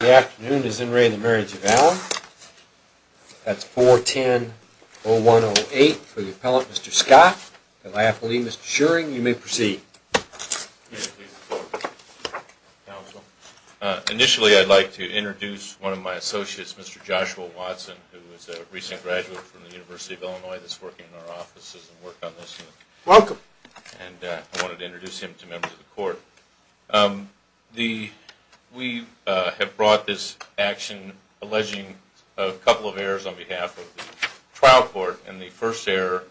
The afternoon is in re of the Marriage of Allen. That's 410-0108 for the appellate, Mr. Scott. If I have to leave, Mr. Shuring, you may proceed. Yes, please, counsel. Initially, I'd like to introduce one of my associates, Mr. Joshua Watson, who is a recent graduate from the University of Illinois that's working in our offices and worked on this. Welcome. And I wanted to introduce him to members of the court. We have brought this action alleging a couple of errors on behalf of the trial court. And the first error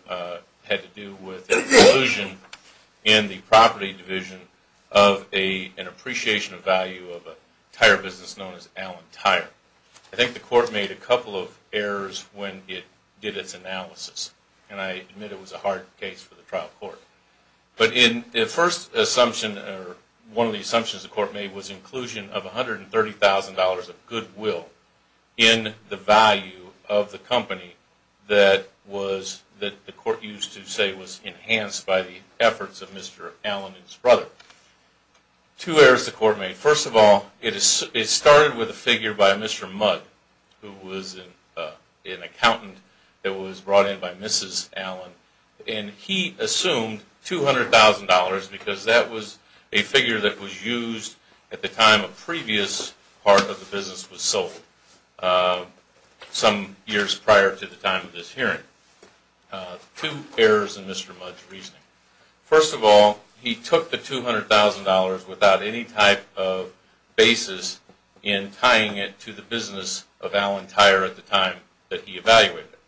had to do with a delusion in the property division of an appreciation of value of a tire business known as Allen Tire. I think the court made a couple of errors when it did its analysis, and I admit it was a hard case for the trial court. But the first assumption, or one of the assumptions the court made, was inclusion of $130,000 of goodwill in the value of the company that the court used to say was enhanced by the efforts of Mr. Allen and his brother. Two errors the court made. First of all, it started with a figure by Mr. Mudd, who was an accountant that was brought in by Mrs. Allen. And he assumed $200,000 because that was a figure that was used at the time a previous part of the business was sold some years prior to the time of this hearing. Two errors in Mr. Mudd's reasoning. First of all, he took the $200,000 without any type of basis in tying it to the business of Allen Tire at the time that he evaluated it.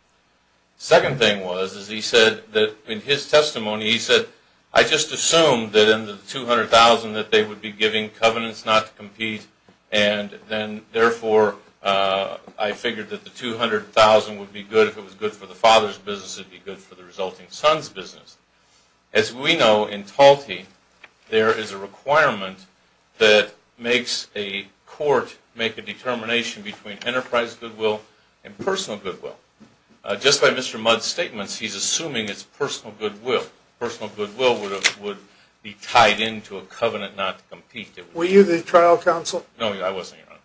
Second thing was, as he said in his testimony, he said, I just assumed that in the $200,000 that they would be giving covenants not to compete, and then therefore I figured that the $200,000 would be good if it was good for the father's business, it would be good for the resulting son's business. As we know, in TALTI, there is a requirement that makes a court make a determination between enterprise goodwill and personal goodwill. Just by Mr. Mudd's statements, he's assuming it's personal goodwill. Personal goodwill would be tied into a covenant not to compete. Were you the trial counsel? No, I wasn't, Your Honor.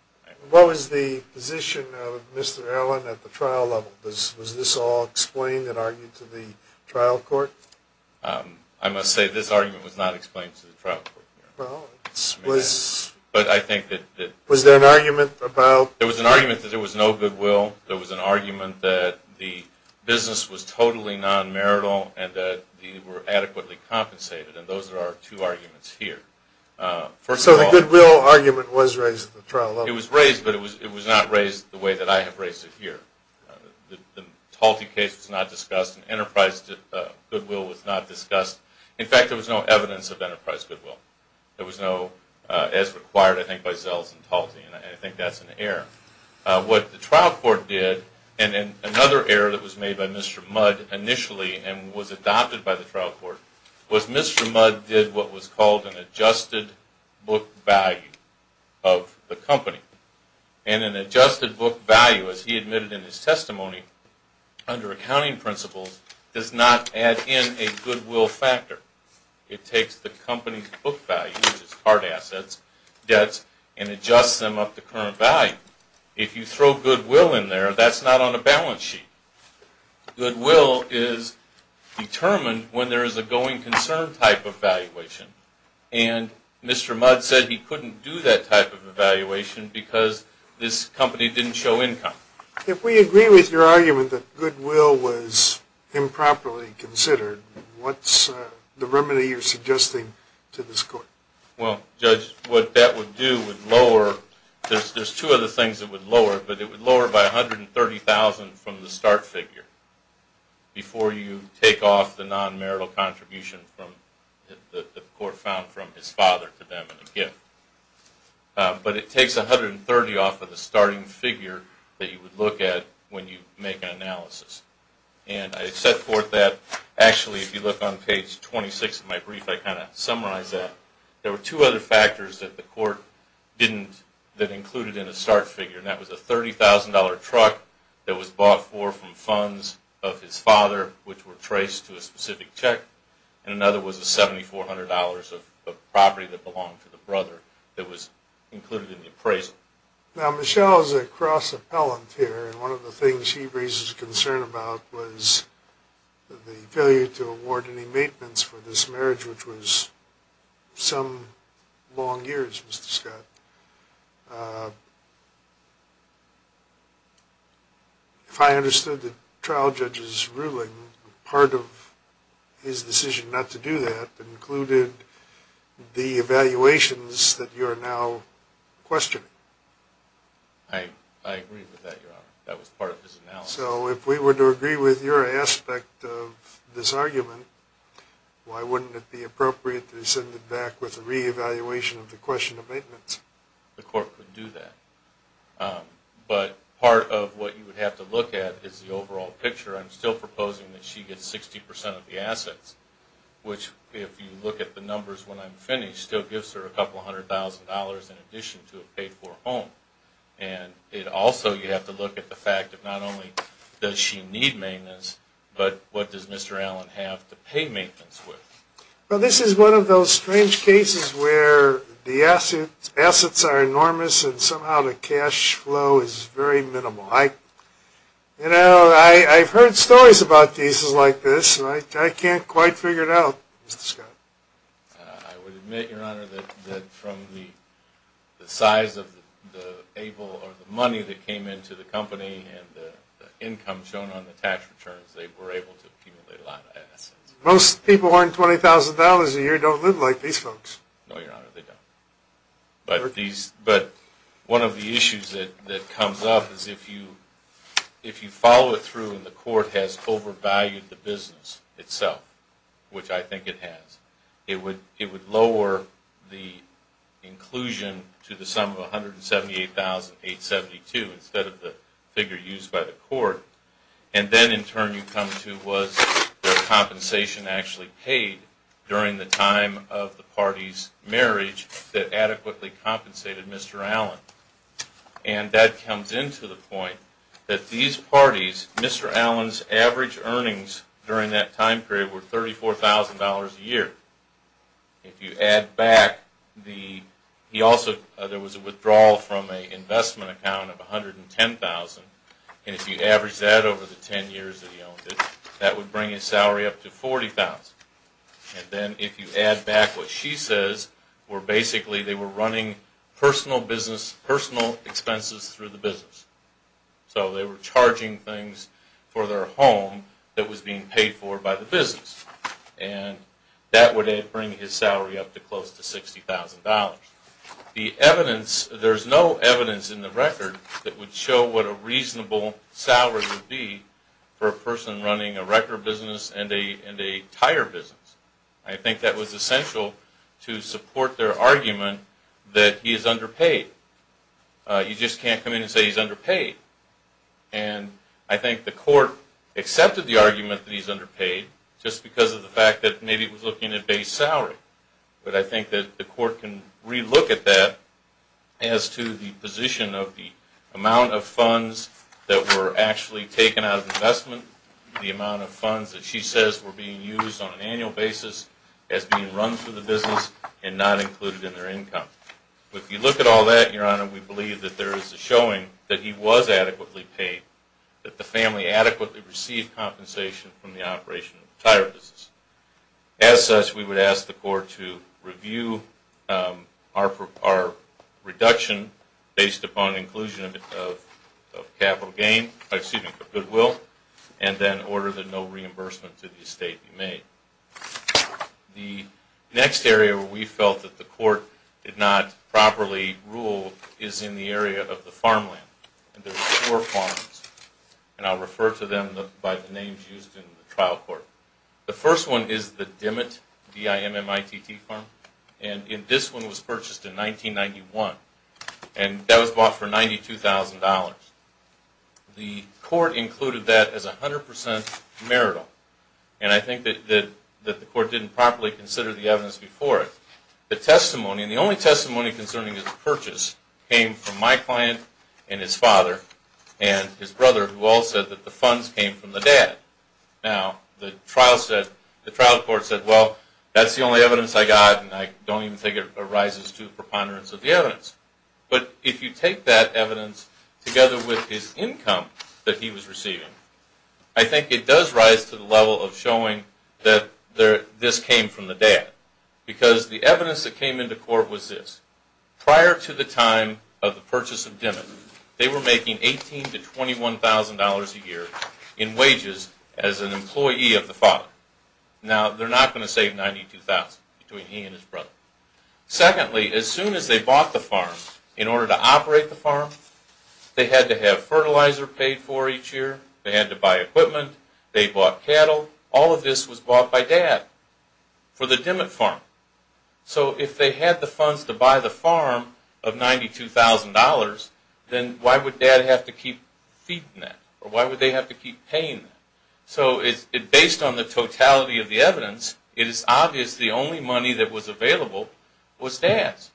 What was the position of Mr. Allen at the trial level? Was this all explained and argued to the trial court? I must say this argument was not explained to the trial court, Your Honor. Well, it was. But I think that- Was there an argument about- There was an argument that there was no goodwill. There was an argument that the business was totally non-marital and that they were adequately compensated, and those are our two arguments here. So the goodwill argument was raised at the trial level? It was raised, but it was not raised the way that I have raised it here. The Talty case was not discussed, and enterprise goodwill was not discussed. In fact, there was no evidence of enterprise goodwill. There was no- as required, I think, by Zells and Talty, and I think that's an error. What the trial court did, and another error that was made by Mr. Mudd initially and was adopted by the trial court, was Mr. Mudd did what was called an adjusted book value of the company. And an adjusted book value, as he admitted in his testimony, under accounting principles, does not add in a goodwill factor. It takes the company's book value, which is hard assets, debts, and adjusts them up to current value. If you throw goodwill in there, that's not on a balance sheet. Goodwill is determined when there is a going concern type of valuation. And Mr. Mudd said he couldn't do that type of valuation because this company didn't show income. If we agree with your argument that goodwill was improperly considered, what's the remedy you're suggesting to this court? Well, Judge, what that would do would lower- there's two other things it would lower, but it would lower by $130,000 from the start figure before you take off the non-marital contribution that the court found from his father to them in a gift. But it takes $130,000 off of the starting figure that you would look at when you make an analysis. And I set forth that- actually, if you look on page 26 of my brief, I kind of summarize that. There were two other factors that the court didn't- that included in the start figure, and that was a $30,000 truck that was bought for from funds of his father, which were traced to a specific check, and another was a $7,400 of property that belonged to the brother that was included in the appraisal. Now, Michelle is a cross-appellant here, and one of the things she raises concern about was the failure to award any maintenance for this marriage, which was some long years, Mr. Scott. If I understood the trial judge's ruling, part of his decision not to do that included the evaluations that you are now questioning. I agree with that, Your Honor. That was part of his analysis. So, if we were to agree with your aspect of this argument, why wouldn't it be appropriate to send it back with a re-evaluation of the question of maintenance? The court could do that. But part of what you would have to look at is the overall picture. I'm still proposing that she gets 60% of the assets, which, if you look at the numbers when I'm finished, still gives her a couple hundred thousand dollars in addition to a paid-for home. And also, you have to look at the fact that not only does she need maintenance, but what does Mr. Allen have to pay maintenance with? Well, this is one of those strange cases where the assets are enormous and somehow the cash flow is very minimal. I've heard stories about cases like this, and I can't quite figure it out. Mr. Scott? I would admit, Your Honor, that from the size of the able or the money that came into the company and the income shown on the tax returns, they were able to accumulate a lot of assets. Most people who earn $20,000 a year don't live like these folks. No, Your Honor, they don't. But one of the issues that comes up is if you follow it through and the court has overvalued the business itself, which I think it has, it would lower the inclusion to the sum of $178,872 instead of the figure used by the court. And then, in turn, you come to, was the compensation actually paid during the time of the party's marriage that adequately compensated Mr. Allen? And that comes into the point that these parties, Mr. Allen's average earnings during that time period were $34,000 a year. If you add back the, he also, there was a withdrawal from an investment account of $110,000, and if you average that over the 10 years that he owned it, that would bring his salary up to $40,000. And then, if you add back what she says, where basically they were running personal business, personal expenses through the business. So they were charging things for their home that was being paid for by the business. And that would bring his salary up to close to $60,000. The evidence, there's no evidence in the record that would show what a reasonable salary would be for a person running a record business and a tire business. I think that was essential to support their argument that he is underpaid. You just can't come in and say he's underpaid. And I think the court accepted the argument that he's underpaid just because of the fact that maybe it was looking at base salary. But I think that the court can re-look at that as to the position of the amount of funds that were actually taken out of investment, the amount of funds that she says were being used on an as being run through the business and not included in their income. If you look at all that, Your Honor, we believe that there is a showing that he was adequately paid, that the family adequately received compensation from the operation of the tire business. As such, we would ask the court to review our reduction based upon inclusion of capital gain, excuse me, of goodwill, and then order that no reimbursement to the estate be made. The next area where we felt that the court did not properly rule is in the area of the farmland. And there are four farms. And I'll refer to them by the names used in the trial court. The first one is the Dimmitt D-I-M-M-I-T-T farm. And this one was purchased in 1991. And that was bought for $92,000. The court included that as 100% marital. And I think that the court didn't properly consider the evidence before it. The testimony, and the only testimony concerning his purchase, came from my client and his father and his brother, who all said that the funds came from the dad. Now, the trial court said, well, that's the only evidence I got. And I don't even think it arises to the preponderance of the evidence. But if you take that evidence together with his income that he was receiving, I think it does rise to the conclusion that this came from the dad. Because the evidence that came into court was this. Prior to the time of the purchase of Dimmitt, they were making $18,000 to $21,000 a year in wages as an employee of the father. Now, they're not going to save $92,000 between he and his brother. Secondly, as soon as they bought the farm, in order to operate the farm, they had to have fertilizer paid for each year. They had to buy equipment. They bought cattle. All of this was bought by dad for the Dimmitt farm. So if they had the funds to buy the farm of $92,000, then why would dad have to keep feeding that? Or why would they have to keep paying that? So based on the totality of the evidence, it is obvious the only money that was available was dad's.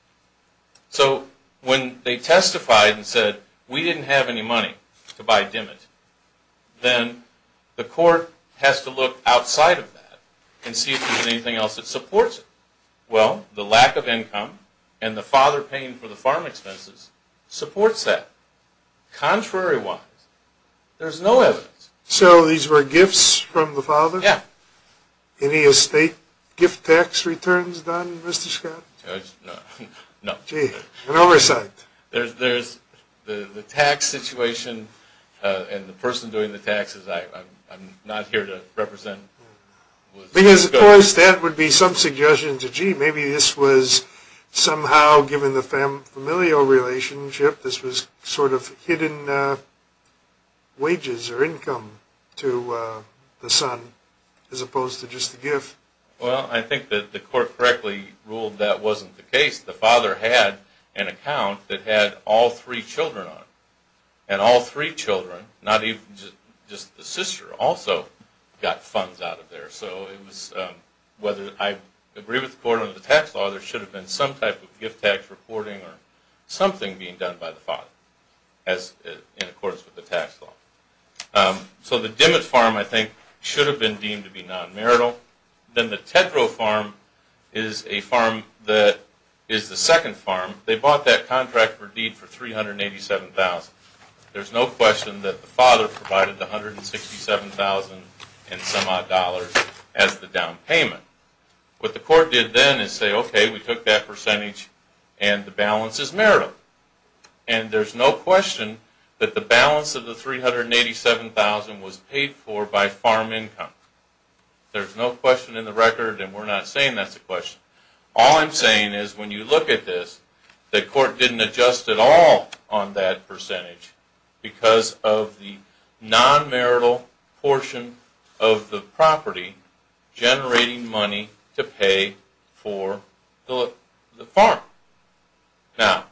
So when they testified and said, we didn't have any money to buy Dimmitt, then the court has to look outside of that and see if there's anything else that supports it. Well, the lack of income and the father paying for the farm expenses supports that. Contrary wise, there's no evidence. So these were gifts from the father? Yeah. Any estate gift tax returns done, Mr. Scott? No. Gee, an oversight. There's the tax situation and the person doing the taxes I'm not here to represent. Because of course, that would be some suggestion to gee, maybe this was somehow given the familial relationship, this was sort of hidden wages or income to the son as opposed to just a gift. Well, I think that the court correctly ruled that wasn't the case. The father had an account that had all three children on it. And all three children, not even just the sister, also got funds out of there. So it was whether I agree with the court or the tax law, there should have been some type of gift tax reporting or something being done by the father as in accordance with the tax law. So the Dimmett farm, I think, should have been deemed to be non-marital. Then the Tedrow farm is a farm that is the second farm. They bought that contract for deed for $387,000. There's no question that the father provided the $167,000 and some odd dollars as the down payment. What the court did then is say, okay, we took that percentage and the balance is marital. And there's no question that the balance of the $387,000 was paid for by farm income. There's no question in the record and we're not saying that's a question. All I'm saying is when you look at this, the court didn't adjust at all on that percentage because of the non-marital portion of the property generating money to pay for the farm. Now,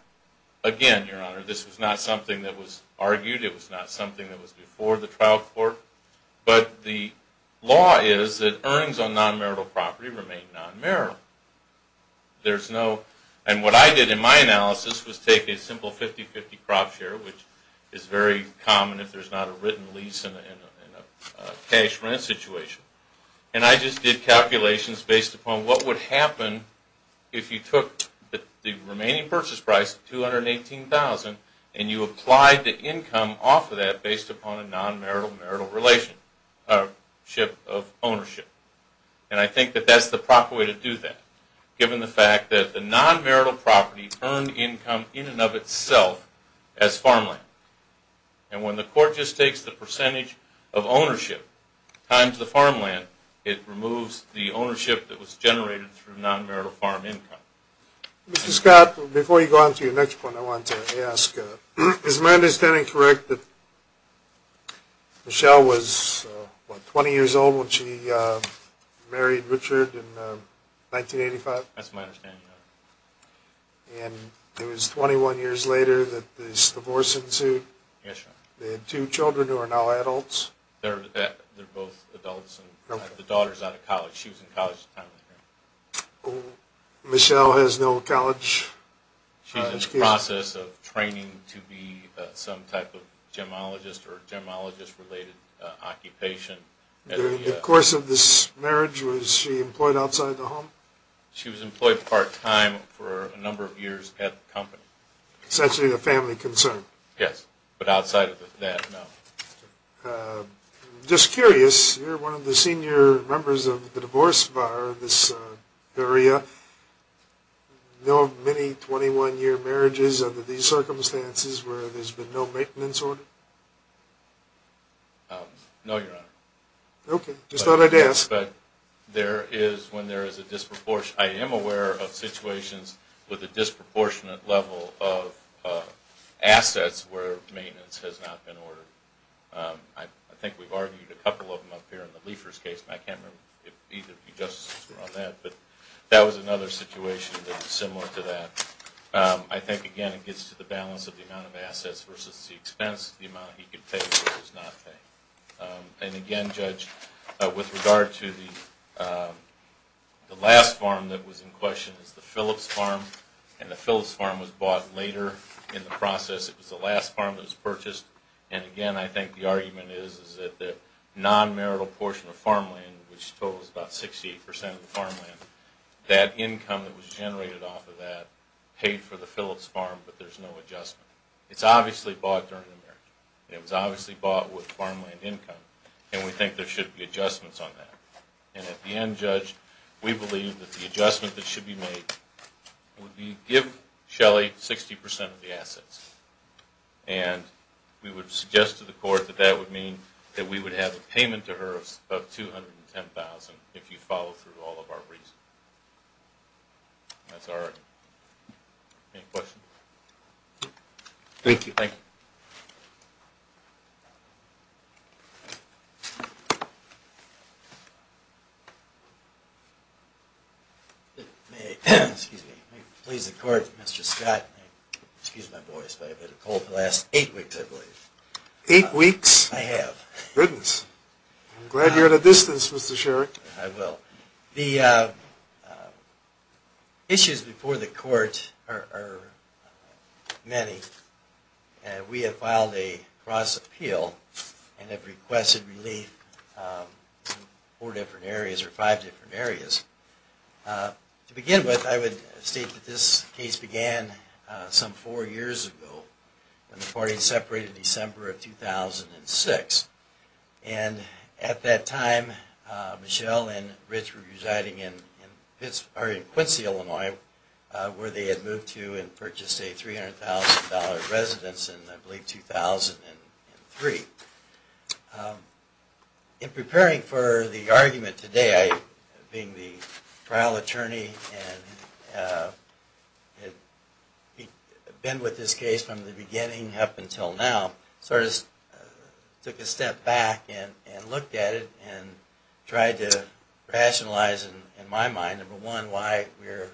again, Your Honor, this was not something that was argued. It was not something that was before the trial court. But the law is that earnings on non-marital property remain non-marital. And what I did in my analysis was take a simple 50-50 crop share, which is very common if there's not a written lease and a cash rent situation, and I just did calculations based upon what would happen if you took the remaining purchase price, $218,000, and you applied the income off of that based upon a non-marital marital relationship of ownership. And I think that that's the proper way to do that, given the fact that the non-marital property earned income in and of itself as farmland. And when the court just takes the percentage of ownership times the farmland, it removes the ownership that was generated through non-marital farm income. Mr. Scott, before you go on to your next point, I want to ask, is my understanding correct that Michelle was, what, 20 years old when she married Richard in 1985? That's my understanding. And it was 21 years later that this divorce ensued. Yes, sir. They had two children who are now adults. They're both adults and the daughter's out of college. She was in college at the time. Michelle has no college education? She's in the process of this marriage. Was she employed outside the home? She was employed part-time for a number of years at the company. It's actually a family concern? Yes, but outside of that, no. I'm just curious, you're one of the senior members of the divorce bar in this area. No many 21-year marriages under these circumstances where there's been no maintenance order? No, Your Honor. Okay, just thought I'd ask. But there is, when there is a disproportionate, I am aware of situations with a disproportionate level of assets where maintenance has not been ordered. I think we've argued a couple of them up here in the Liefers case, and I can't remember if either of you just were on that, but that was another situation that was similar to that. I think, again, it gets to the balance of the amount of he could pay versus not pay. And again, Judge, with regard to the last farm that was in question, it's the Phillips farm, and the Phillips farm was bought later in the process. It was the last farm that was purchased, and again, I think the argument is that the non-marital portion of farmland, which totals about 68% of the farmland, that income that was generated off of that paid for in America. And it was obviously bought with farmland income, and we think there should be adjustments on that. And at the end, Judge, we believe that the adjustment that should be made would be give Shelley 60% of the assets. And we would suggest to the Court that that would mean that we would have a payment to her of $210,000 if you follow through all of our reasons. That's our argument. Any questions? Thank you. May it please the Court, Mr. Scott. Excuse my voice, but I've had a cold for the last eight weeks, I believe. Eight weeks? I have. Goodness. I'm glad you're at a distance, Mr. Sherrick. I will. The issues before the Court are many. We have filed a cross-appeal and have requested relief in four different areas, or five different areas. To begin with, I would state that this case began some four years ago when the party separated in December of 2006. And at that time, Michelle and Rich were residing in Quincy, Illinois, where they had moved to and purchased a $300,000 residence in, I believe, 2003. In preparing for the argument today, being the trial attorney and had been with this case from the beginning up until now, I sort of took a step back and looked at it and tried to rationalize, in my mind, number one, why we're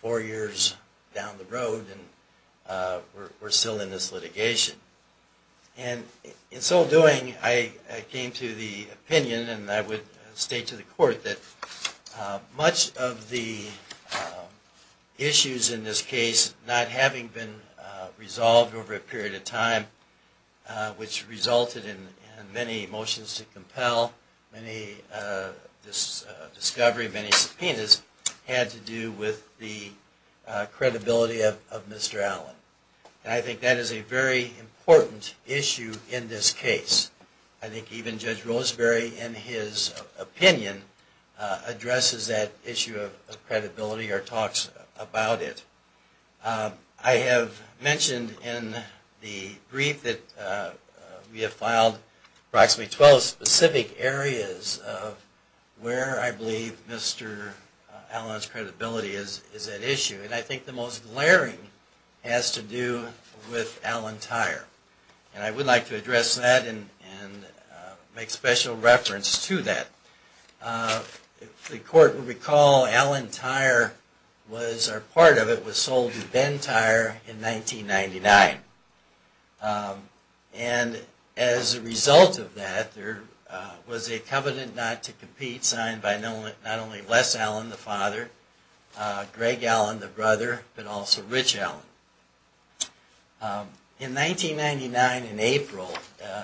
four years down the road and we're still in this litigation. And in so doing, I came to the opinion, and I would state to the Court, that much of the issues in this case, not having been resolved over a period of time, which resulted in many motions to compel, many discoveries, many subpoenas, had to do with the credibility of Mr. Allen. And I think that is a very important issue in this case. I think even Judge Roseberry, in his opinion, addresses that issue of credibility or talks about it. I have mentioned in the brief that we have filed approximately 12 specific areas of where I believe Mr. Allen's credibility is at issue. And I think the most glaring has to do with Allen Tire. And I would like to address that and make special reference to that. The Court would recall Allen Tire was, or part of it, was sold to Ben Tire in 1999. And as a result of that, there was a dispute between Jess Allen, the father, Greg Allen, the brother, but also Rich Allen. In 1999, in April,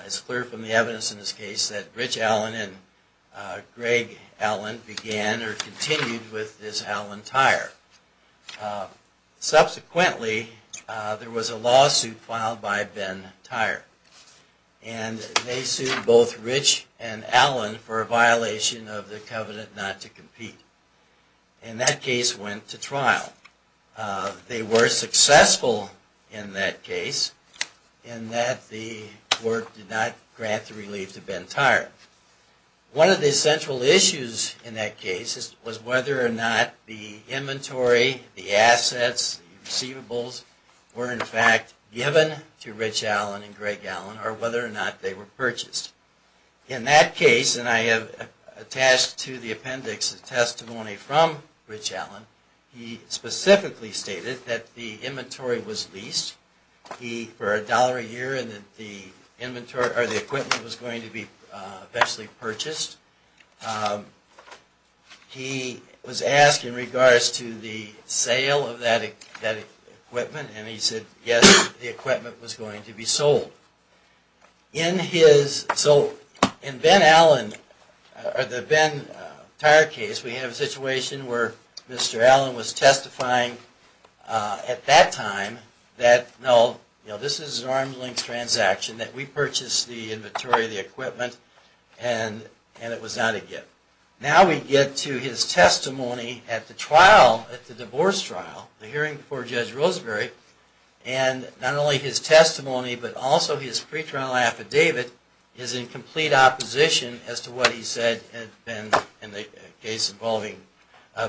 it's clear from the evidence in this case that Rich Allen and Greg Allen began or continued with this Allen Tire. Subsequently, there was a lawsuit filed by Ben Tire. And they sued both Rich and Allen for a violation of the covenant not to compete. And that case went to trial. They were successful in that case in that the court did not grant the relief to Ben Tire. One of the central issues in that case was whether or not the inventory, the assets, receivables, were in fact given to Rich Allen and Greg Allen or whether or not they were purchased. In that case, and I have attached to the appendix a testimony from Rich Allen, he specifically stated that the inventory was leased. He, for a dollar a year, and that the equipment was going to be eventually purchased. He was asked in regards to the sale of that equipment and he said, yes, the equipment was going to be sold. So, in Ben Allen, or the Ben Tire case, we have a situation where Mr. Allen was testifying at that time that, no, this is an arm's length transaction, that we purchased the inventory, the equipment, and it was not a gift. Now we get to his testimony at the trial, at the divorce trial, the hearing before Judge Roseberry, and not only his testimony, but also his pre-trial affidavit is in complete opposition as to what he said in the case involving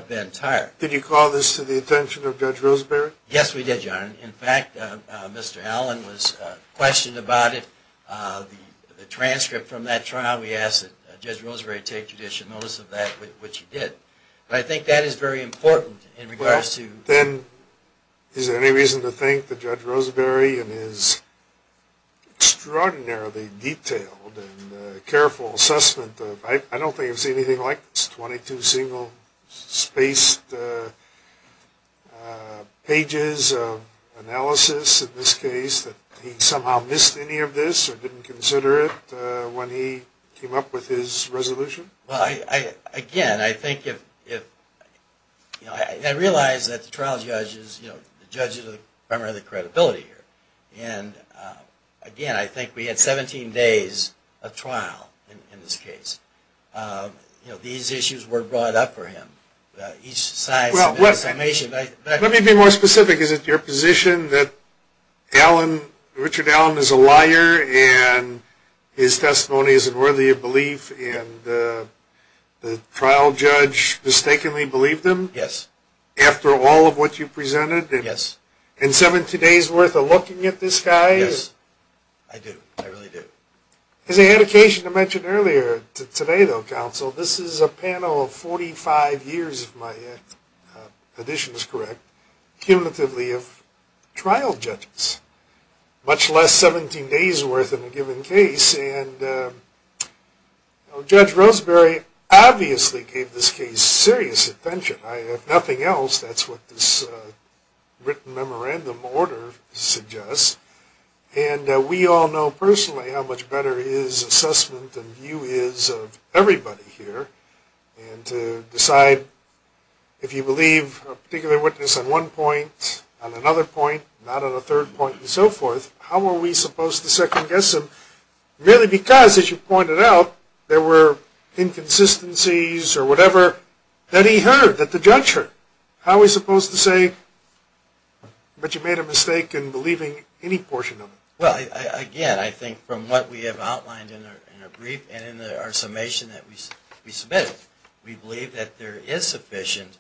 Ben Tire. Did you call this to the attention of Judge Roseberry? Yes, we did, John. In fact, Mr. Allen was questioned about it. The transcript from that trial, we asked that Judge Roseberry take additional notice of that, which he did. But I think that is very important in regards to… Then, is there any reason to think that Judge Roseberry, in his extraordinarily detailed and careful assessment of, I don't think I've seen anything like this, 22 single spaced pages of analysis in this case, that he somehow missed any of this or didn't consider it when he came up with his resolution? Well, again, I think if… I realize that the trial judge is the judge of the credibility here. And again, I think we had 17 days of trial in this case. These issues were brought up for him. Each side's summation… Let me be more specific. Is it your position that Richard Allen is a liar, and his testimony is unworthy of belief, and the trial judge mistakenly believed him? Yes. After all of what you presented? Yes. And 17 days worth of looking at this guy? Yes. I do. I really do. As I had occasion to mention earlier today, though, counsel, this is a panel of 45 years, if my addition is correct, cumulatively of trial judges. Much less 17 days worth in a given case, and Judge Roseberry obviously gave this case serious attention. If nothing else, that's what this written memorandum order suggests. And we all know personally how much better his assessment and view is of everybody here. And to decide, if you believe a particular witness on one point, on another point, not on a third point, and so forth, how are we supposed to second guess him? Merely because, as you pointed out, there were inconsistencies or whatever that he heard, that the judge heard. How are we supposed to say, but you made a mistake in believing any portion of it? Well, again, I think from what we have outlined in our brief and in our summation that we submitted, we believe that there is sufficient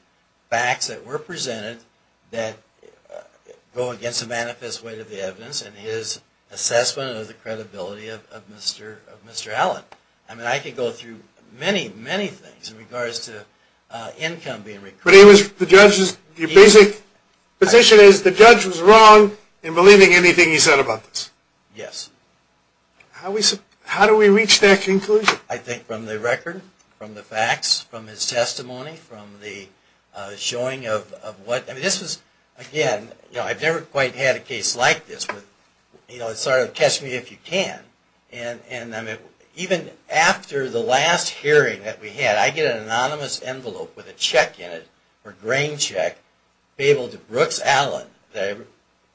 facts that were presented that go against the manifest weight of the evidence and his assessment of the credibility of Mr. Allen. I mean, I could go through many, many things in regards to income being recruited. But the judge's basic position is the judge was wrong in believing anything he said about this? Yes. How do we reach that conclusion? I think from the record, from the facts, from his testimony, from the showing of what, I mean, this was, again, I've never quite had a case like this with, you know, it's sort of, catch me if you can. And even after the last hearing that we had, I get an anonymous envelope with a check in it, or grain check, able to Brooks Allen, that I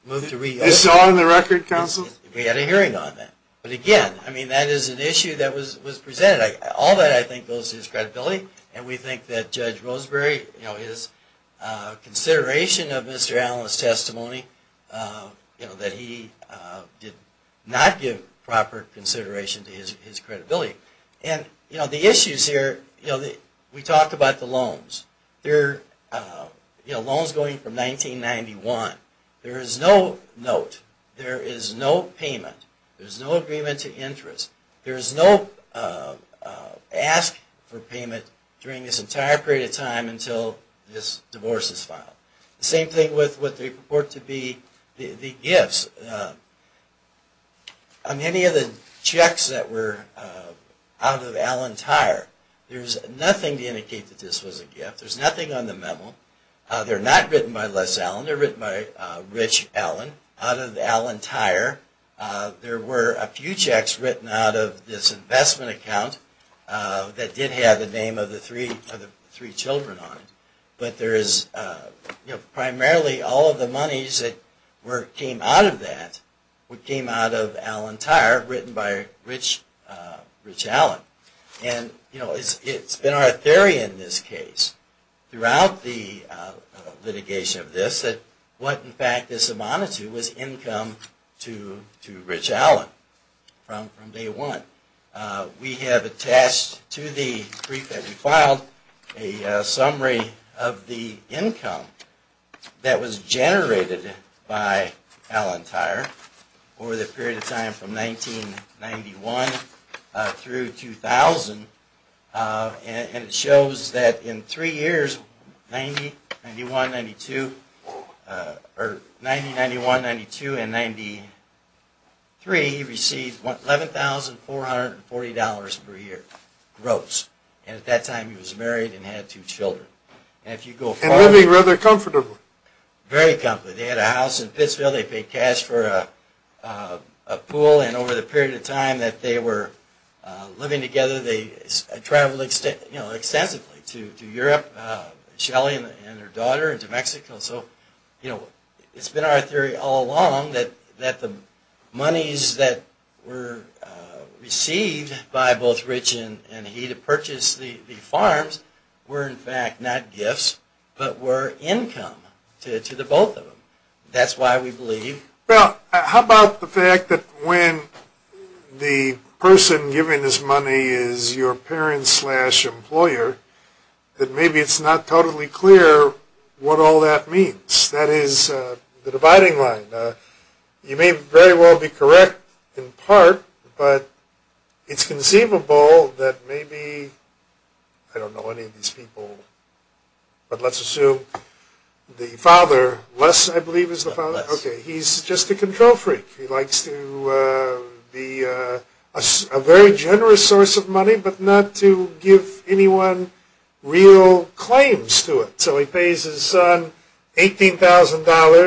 moved to reopen. It's all in the record, counsel? We had a hearing on that. But again, I mean, that is an issue that was presented. All that, I think, goes to his credibility. And we think that Judge Roseberry, you know, his consideration of Mr. Allen's testimony, you know, that he did not give proper consideration to his credibility. And, you know, the issues here, you know, we talked about the loans. They're, you know, loans going from 1991. There is no note. There is no payment. There's no agreement to interest. There is no ask for payment during this entire period of time until this divorce is filed. The same thing with what they report to be the gifts. On any of the checks that were out of Allen Tire, there's nothing to indicate that this was a gift. There's nothing on the memo. They're not written by Les Allen. They're written by Rich Allen. Out of Allen Tire, there were a few checks written out of this investment account that did have the name of the three children on it. But there is, you know, primarily all of the monies that came out of that, came out of Allen Tire, written by Rich Allen. And, you know, it's been our theory in this case, throughout the litigation of this, that what, in fact, this amounted to was income to Rich Allen from day one. We have attached to the brief that we filed a summary of the income that was generated by Allen Tire over the period of time from 1991 through 2000. And it shows that in three years, 90, 91, 92, or 90, 91, 92, and 93, he received $11,440 per year gross. And at that time, he was married and had two children. And living rather comfortably. Very comfortably. They had a house in Pittsville. They paid cash for a pool. And over the period of time that they were living together, they traveled extensively to Europe, Shelly and her daughter, and to Mexico. So, you know, it's been our theory all along that the monies that were received by both Rich and he to purchase the farms were, in fact, not gifts, but were income to the both of them. That's why we believe... Well, how about the fact that when the person giving this money is your parent slash employer, that maybe it's not totally clear what all that means. That is the dividing line. You may very well be correct in part, but it's conceivable that maybe, I don't know any of these people, but let's assume the father, Les, I believe, is the father. He's just a control freak. He likes to be a very generous source of money, but not to give anyone real claims to it. So he pays his son $18,000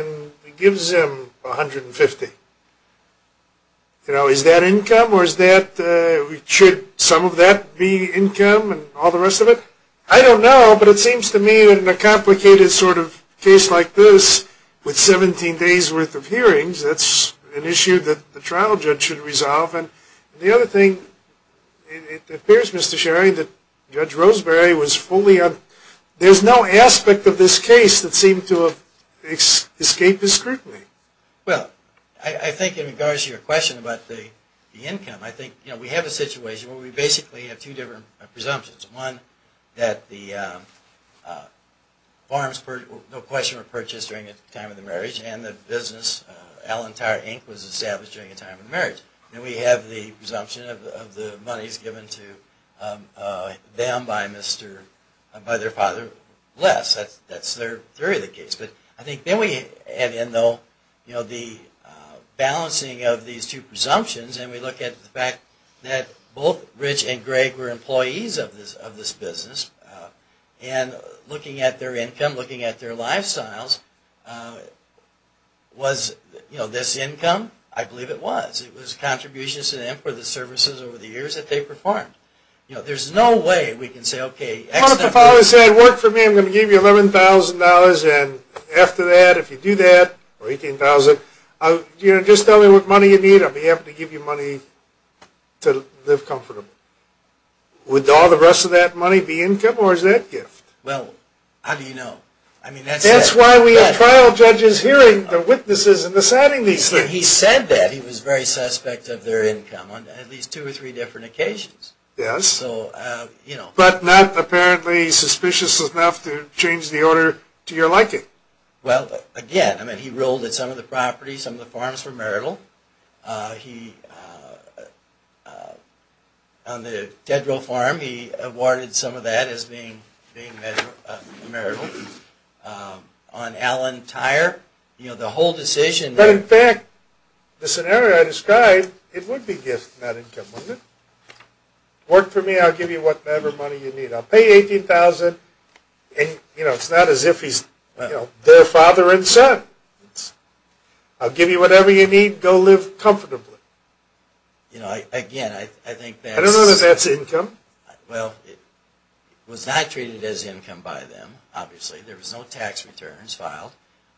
and gives him $150,000. You know, is that income or is that... should some of that be income and all the rest of it? I don't know, but it seems to me that in a complicated sort of case like this, with 17 days worth of hearings, that's an issue that the trial judge should resolve. And the other thing, it appears, Mr. Sherry, that Judge Roseberry was fully... there's no aspect of this case that seemed to have escaped his scrutiny. Well, I think in regards to your question about the income, I think, you know, we have a situation where we basically have two different presumptions. One, that the farms were no question purchased during the time of the marriage, and the business Allentower Inc. was established during the time of the marriage. And we have the presumption of the monies given to them by their father, Les. That's their theory of the case. But I think then we add in the balancing of these two presumptions, and we look at the fact that both Rich and Greg were employees of this business, and looking at their income, looking at their lifestyles, was this income? I believe it was. It was contributions to them for the services over the years that they performed. You know, there's no way we can say, okay... Well, if the father said, work for me, I'm going to give you $11,000, and after that, if you do that, or $18,000, just tell me what money you need, I'll be able to give you money to live comfortably. Would all the rest of that money be income, or is it a gift? Well, how do you know? I mean, that's... That's why we have trial judges hearing the witnesses and deciding these things. He said that. He was very suspect of their income on at least two or three different occasions. Yes. So, you know... But not apparently suspicious enough to change the order to your liking. Well, again, I mean, he ruled that some of the properties, some of the farms were marital. He... On the Dead Will Farm, he awarded some of that as being marital. On Allen Tire, you know, the whole decision... But in fact, the scenario I described, it would be gift, not income, wouldn't it? Work for me, I'll give you whatever money you need. I'll pay $18,000, and, you know, it's not as if he's their father and son. I'll give you whatever you need, go live comfortably. You know, again, I think that's... I don't know that that's income. Well, it was not treated as income by them, obviously. There was no tax returns filed.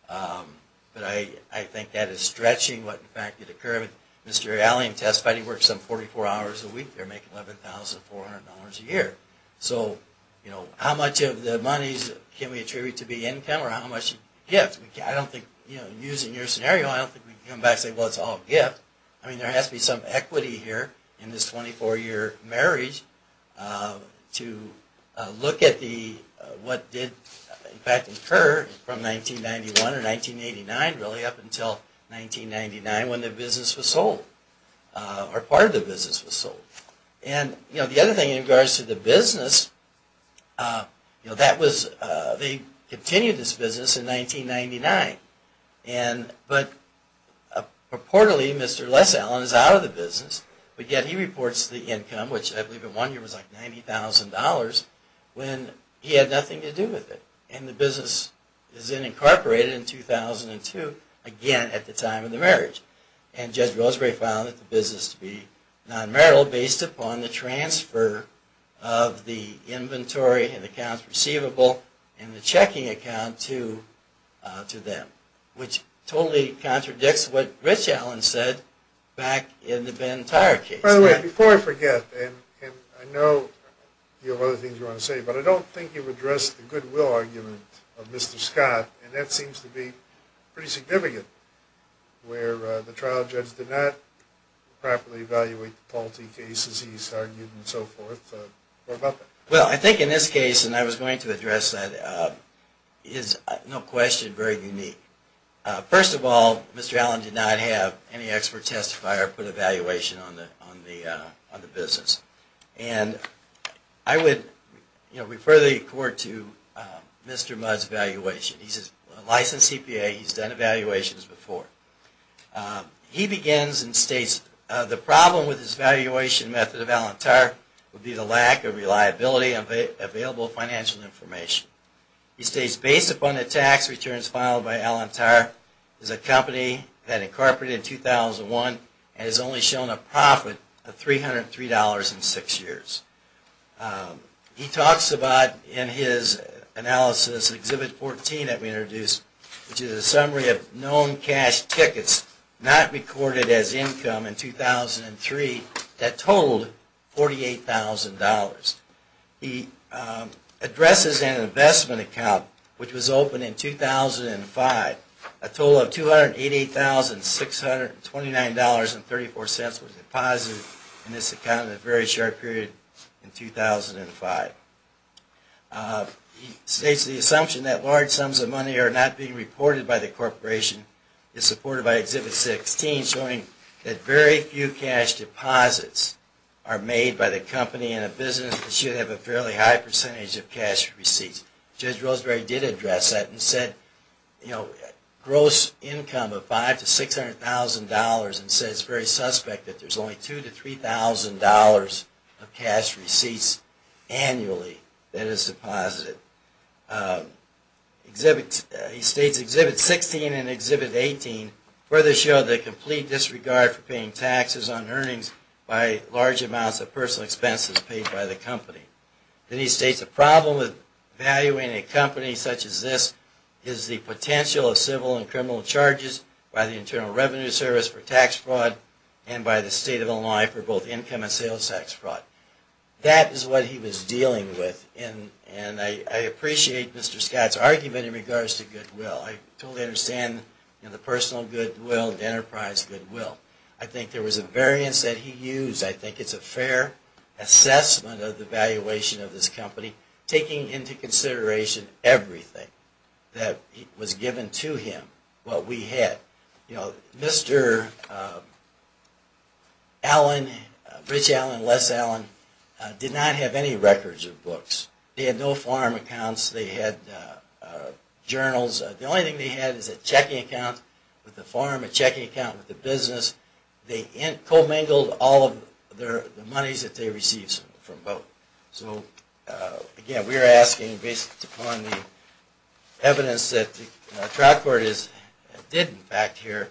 But I think that is stretching what, in fact, did occur. Mr. Allen testified he worked some 44 hours a week there, making $11,400 a year. So, you know, how much of the money can we attribute to be income, or how much gift? I don't think, you know, using your scenario, I don't think we can come back and say, well, it's all gift. I mean, there has to be some equity here in this 24-year marriage to look at the... what did, in fact, occur from 1991 or 1989, really, up until 1999 when the business was sold, or part of the business was sold. And, you know, the other thing in regards to the business, you know, that was... He continued this business in 1999, but purportedly Mr. Les Allen is out of the business, but yet he reports the income, which I believe in one year was like $90,000, when he had nothing to do with it. And the business is then incorporated in 2002, again at the time of the marriage. And Judge Roseberry found that the business to be non-marital based upon the transfer of the inventory and accounts receivable and the checking account to them, which totally contradicts what Rich Allen said back in the Ben Tyra case. By the way, before I forget, and I know you have other things you want to say, but I don't think you've addressed the goodwill argument of Mr. Scott, and that seems to be pretty significant, where the trial judge did not properly evaluate the Paul T. cases he's argued and so forth. Well, I think in this case, and I was going to address that, is no question very unique. First of all, Mr. Allen did not have any expert testifier put an evaluation on the business. And I would refer the court to Mr. Mudd's evaluation. He's a licensed CPA, he's done evaluations before. He begins and states, the problem with his evaluation method of Alan Tarr would be the lack of reliability of available financial information. He states, based upon the tax returns filed by Alan Tarr, it's a company that incorporated in 2001 and has only shown a profit of $303 in six years. He talks about, in his analysis, Exhibit 14 that we introduced, which is a summary of known cash tickets not recorded as income in 2003 that totaled $48,000. He addresses an investment account which was opened in 2005, a total of $288,629.34 was deposited in this account in a very short period in 2005. He states, the assumption that large sums of money are not being reported by the corporation is supported by Exhibit 16, showing that very few cash deposits are made by the company in a business that should have a fairly high percentage of cash receipts. Judge Roseberry did address that and said gross income of $500,000 to $600,000 and said it's very suspect that there's only $2,000 to $3,000 of cash receipts annually that is deposited. He states, Exhibit 16 and Exhibit 18 further show the complete disregard for paying taxes on earnings by large amounts of personal expenses paid by the company. Then he states, the problem with valuing a company such as this is the potential of civil and criminal charges by the Internal Revenue Service for tax fraud and by the state of Illinois for both income and sales tax fraud. That is what he was dealing with and I appreciate Mr. Scott's argument in regards to goodwill. I totally understand the personal goodwill, the enterprise goodwill. I think there was a variance that he used. I think it's a fair assessment of the valuation of this company, taking into consideration everything that was given to him, what we had. You know, Mr. Allen, Rich Allen, Les Allen, did not have any records or books. They had no farm accounts. They had journals. The only thing they had was a checking account with the farm, a checking account with the business. They co-mingled all of the monies that they received from both. So, again, we are asking, based upon the evidence that the trial court did, in fact, here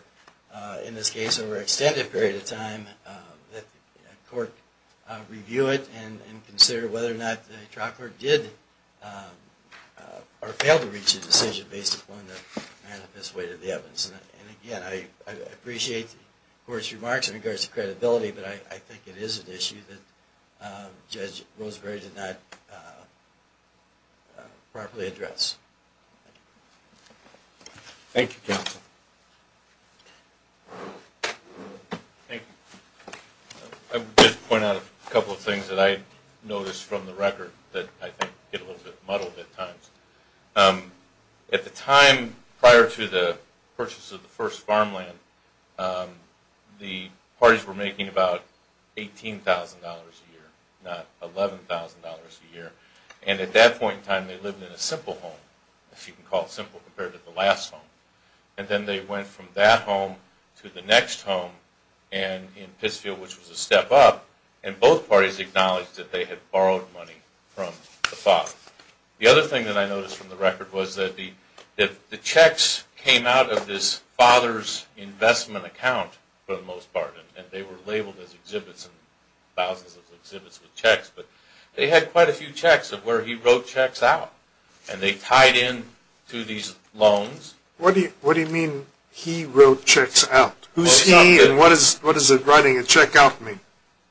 in this case, over an extended period of time, that the court review it and consider whether or not the trial court did or failed to reach a decision based upon the manifest weight of the evidence. And, again, I appreciate the court's remarks in regards to credibility, but I think it is an issue that Judge Roseberry did not properly address. Thank you, counsel. Thank you. I would just point out a couple of things that I noticed from the record that I think get a little bit muddled at times. At the time prior to the purchase of the first farmland, the parties were making about $18,000 a year, not $11,000 a year. And at that point in time, they lived in a simple home, if you can call it simple compared to the last home. And then they went from that home to the next home in Pittsfield, which was a step up, and both parties acknowledged that they had borrowed money from the father. The other thing that I noticed from the record was that the checks came out of this father's investment account, for the most part, and they were labeled as exhibits, thousands of exhibits with checks. But they had quite a few checks of where he wrote checks out, and they tied into these loans. What do you mean he wrote checks out? Who's he, and what does writing a check out mean?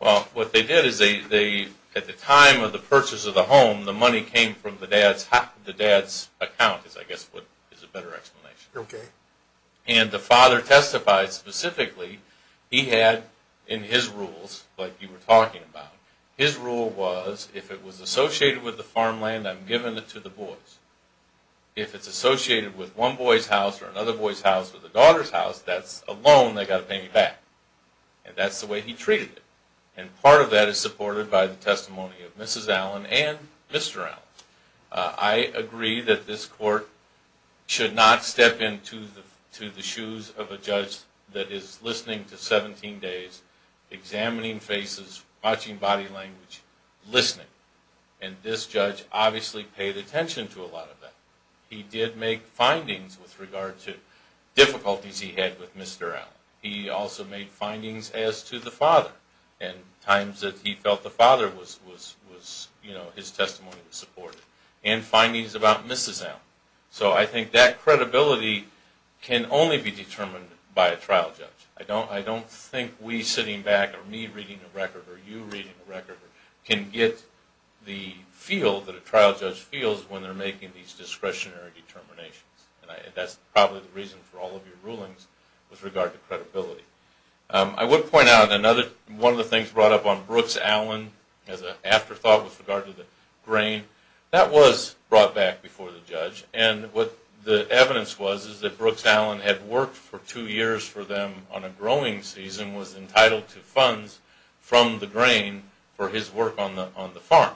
Well, what they did is they, at the time of the purchase of the home, the money came from the dad's account, is I guess what is a better explanation. Okay. And the father testified specifically, he had in his rules, like you were talking about, his rule was, if it was associated with the farmland, I'm giving it to the boys. If it's associated with one boy's house or another boy's house or the daughter's house, that's a loan they've got to pay me back. And that's the way he treated it. And part of that is supported by the testimony of Mrs. Allen and Mr. Allen. I agree that this court should not step into the shoes of a judge that is listening to 17 days, examining faces, watching body language, listening. And this judge obviously paid attention to a lot of that. He did make findings with regard to difficulties he had with Mr. Allen. He also made findings as to the father. And times that he felt the father was, you know, his testimony was supported. And findings about Mrs. Allen. So I think that credibility can only be determined by a trial judge. I don't think we sitting back, or me reading a record, or you reading a record, can get the feel that a trial judge feels when they're making these discretionary determinations. And that's probably the reason for all of your rulings with regard to credibility. I would point out one of the things brought up on Brooks Allen as an afterthought with regard to the grain, that was brought back before the judge. And what the evidence was is that Brooks Allen had worked for two years for them on a growing season, was entitled to funds from the grain for his work on the farm.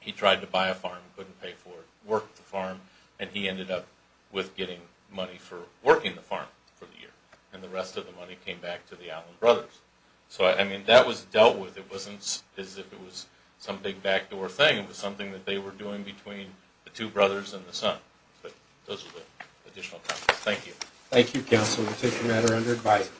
He tried to buy a farm, couldn't pay for it, worked the farm, and he ended up with getting money for working the farm for the year. And the rest of the money came back to the Allen brothers. So, I mean, that was dealt with. It wasn't as if it was some big backdoor thing. It was something that they were doing between the two brothers and the son. But those are the additional comments. Thank you. Thank you, counsel. We take the matter under advice.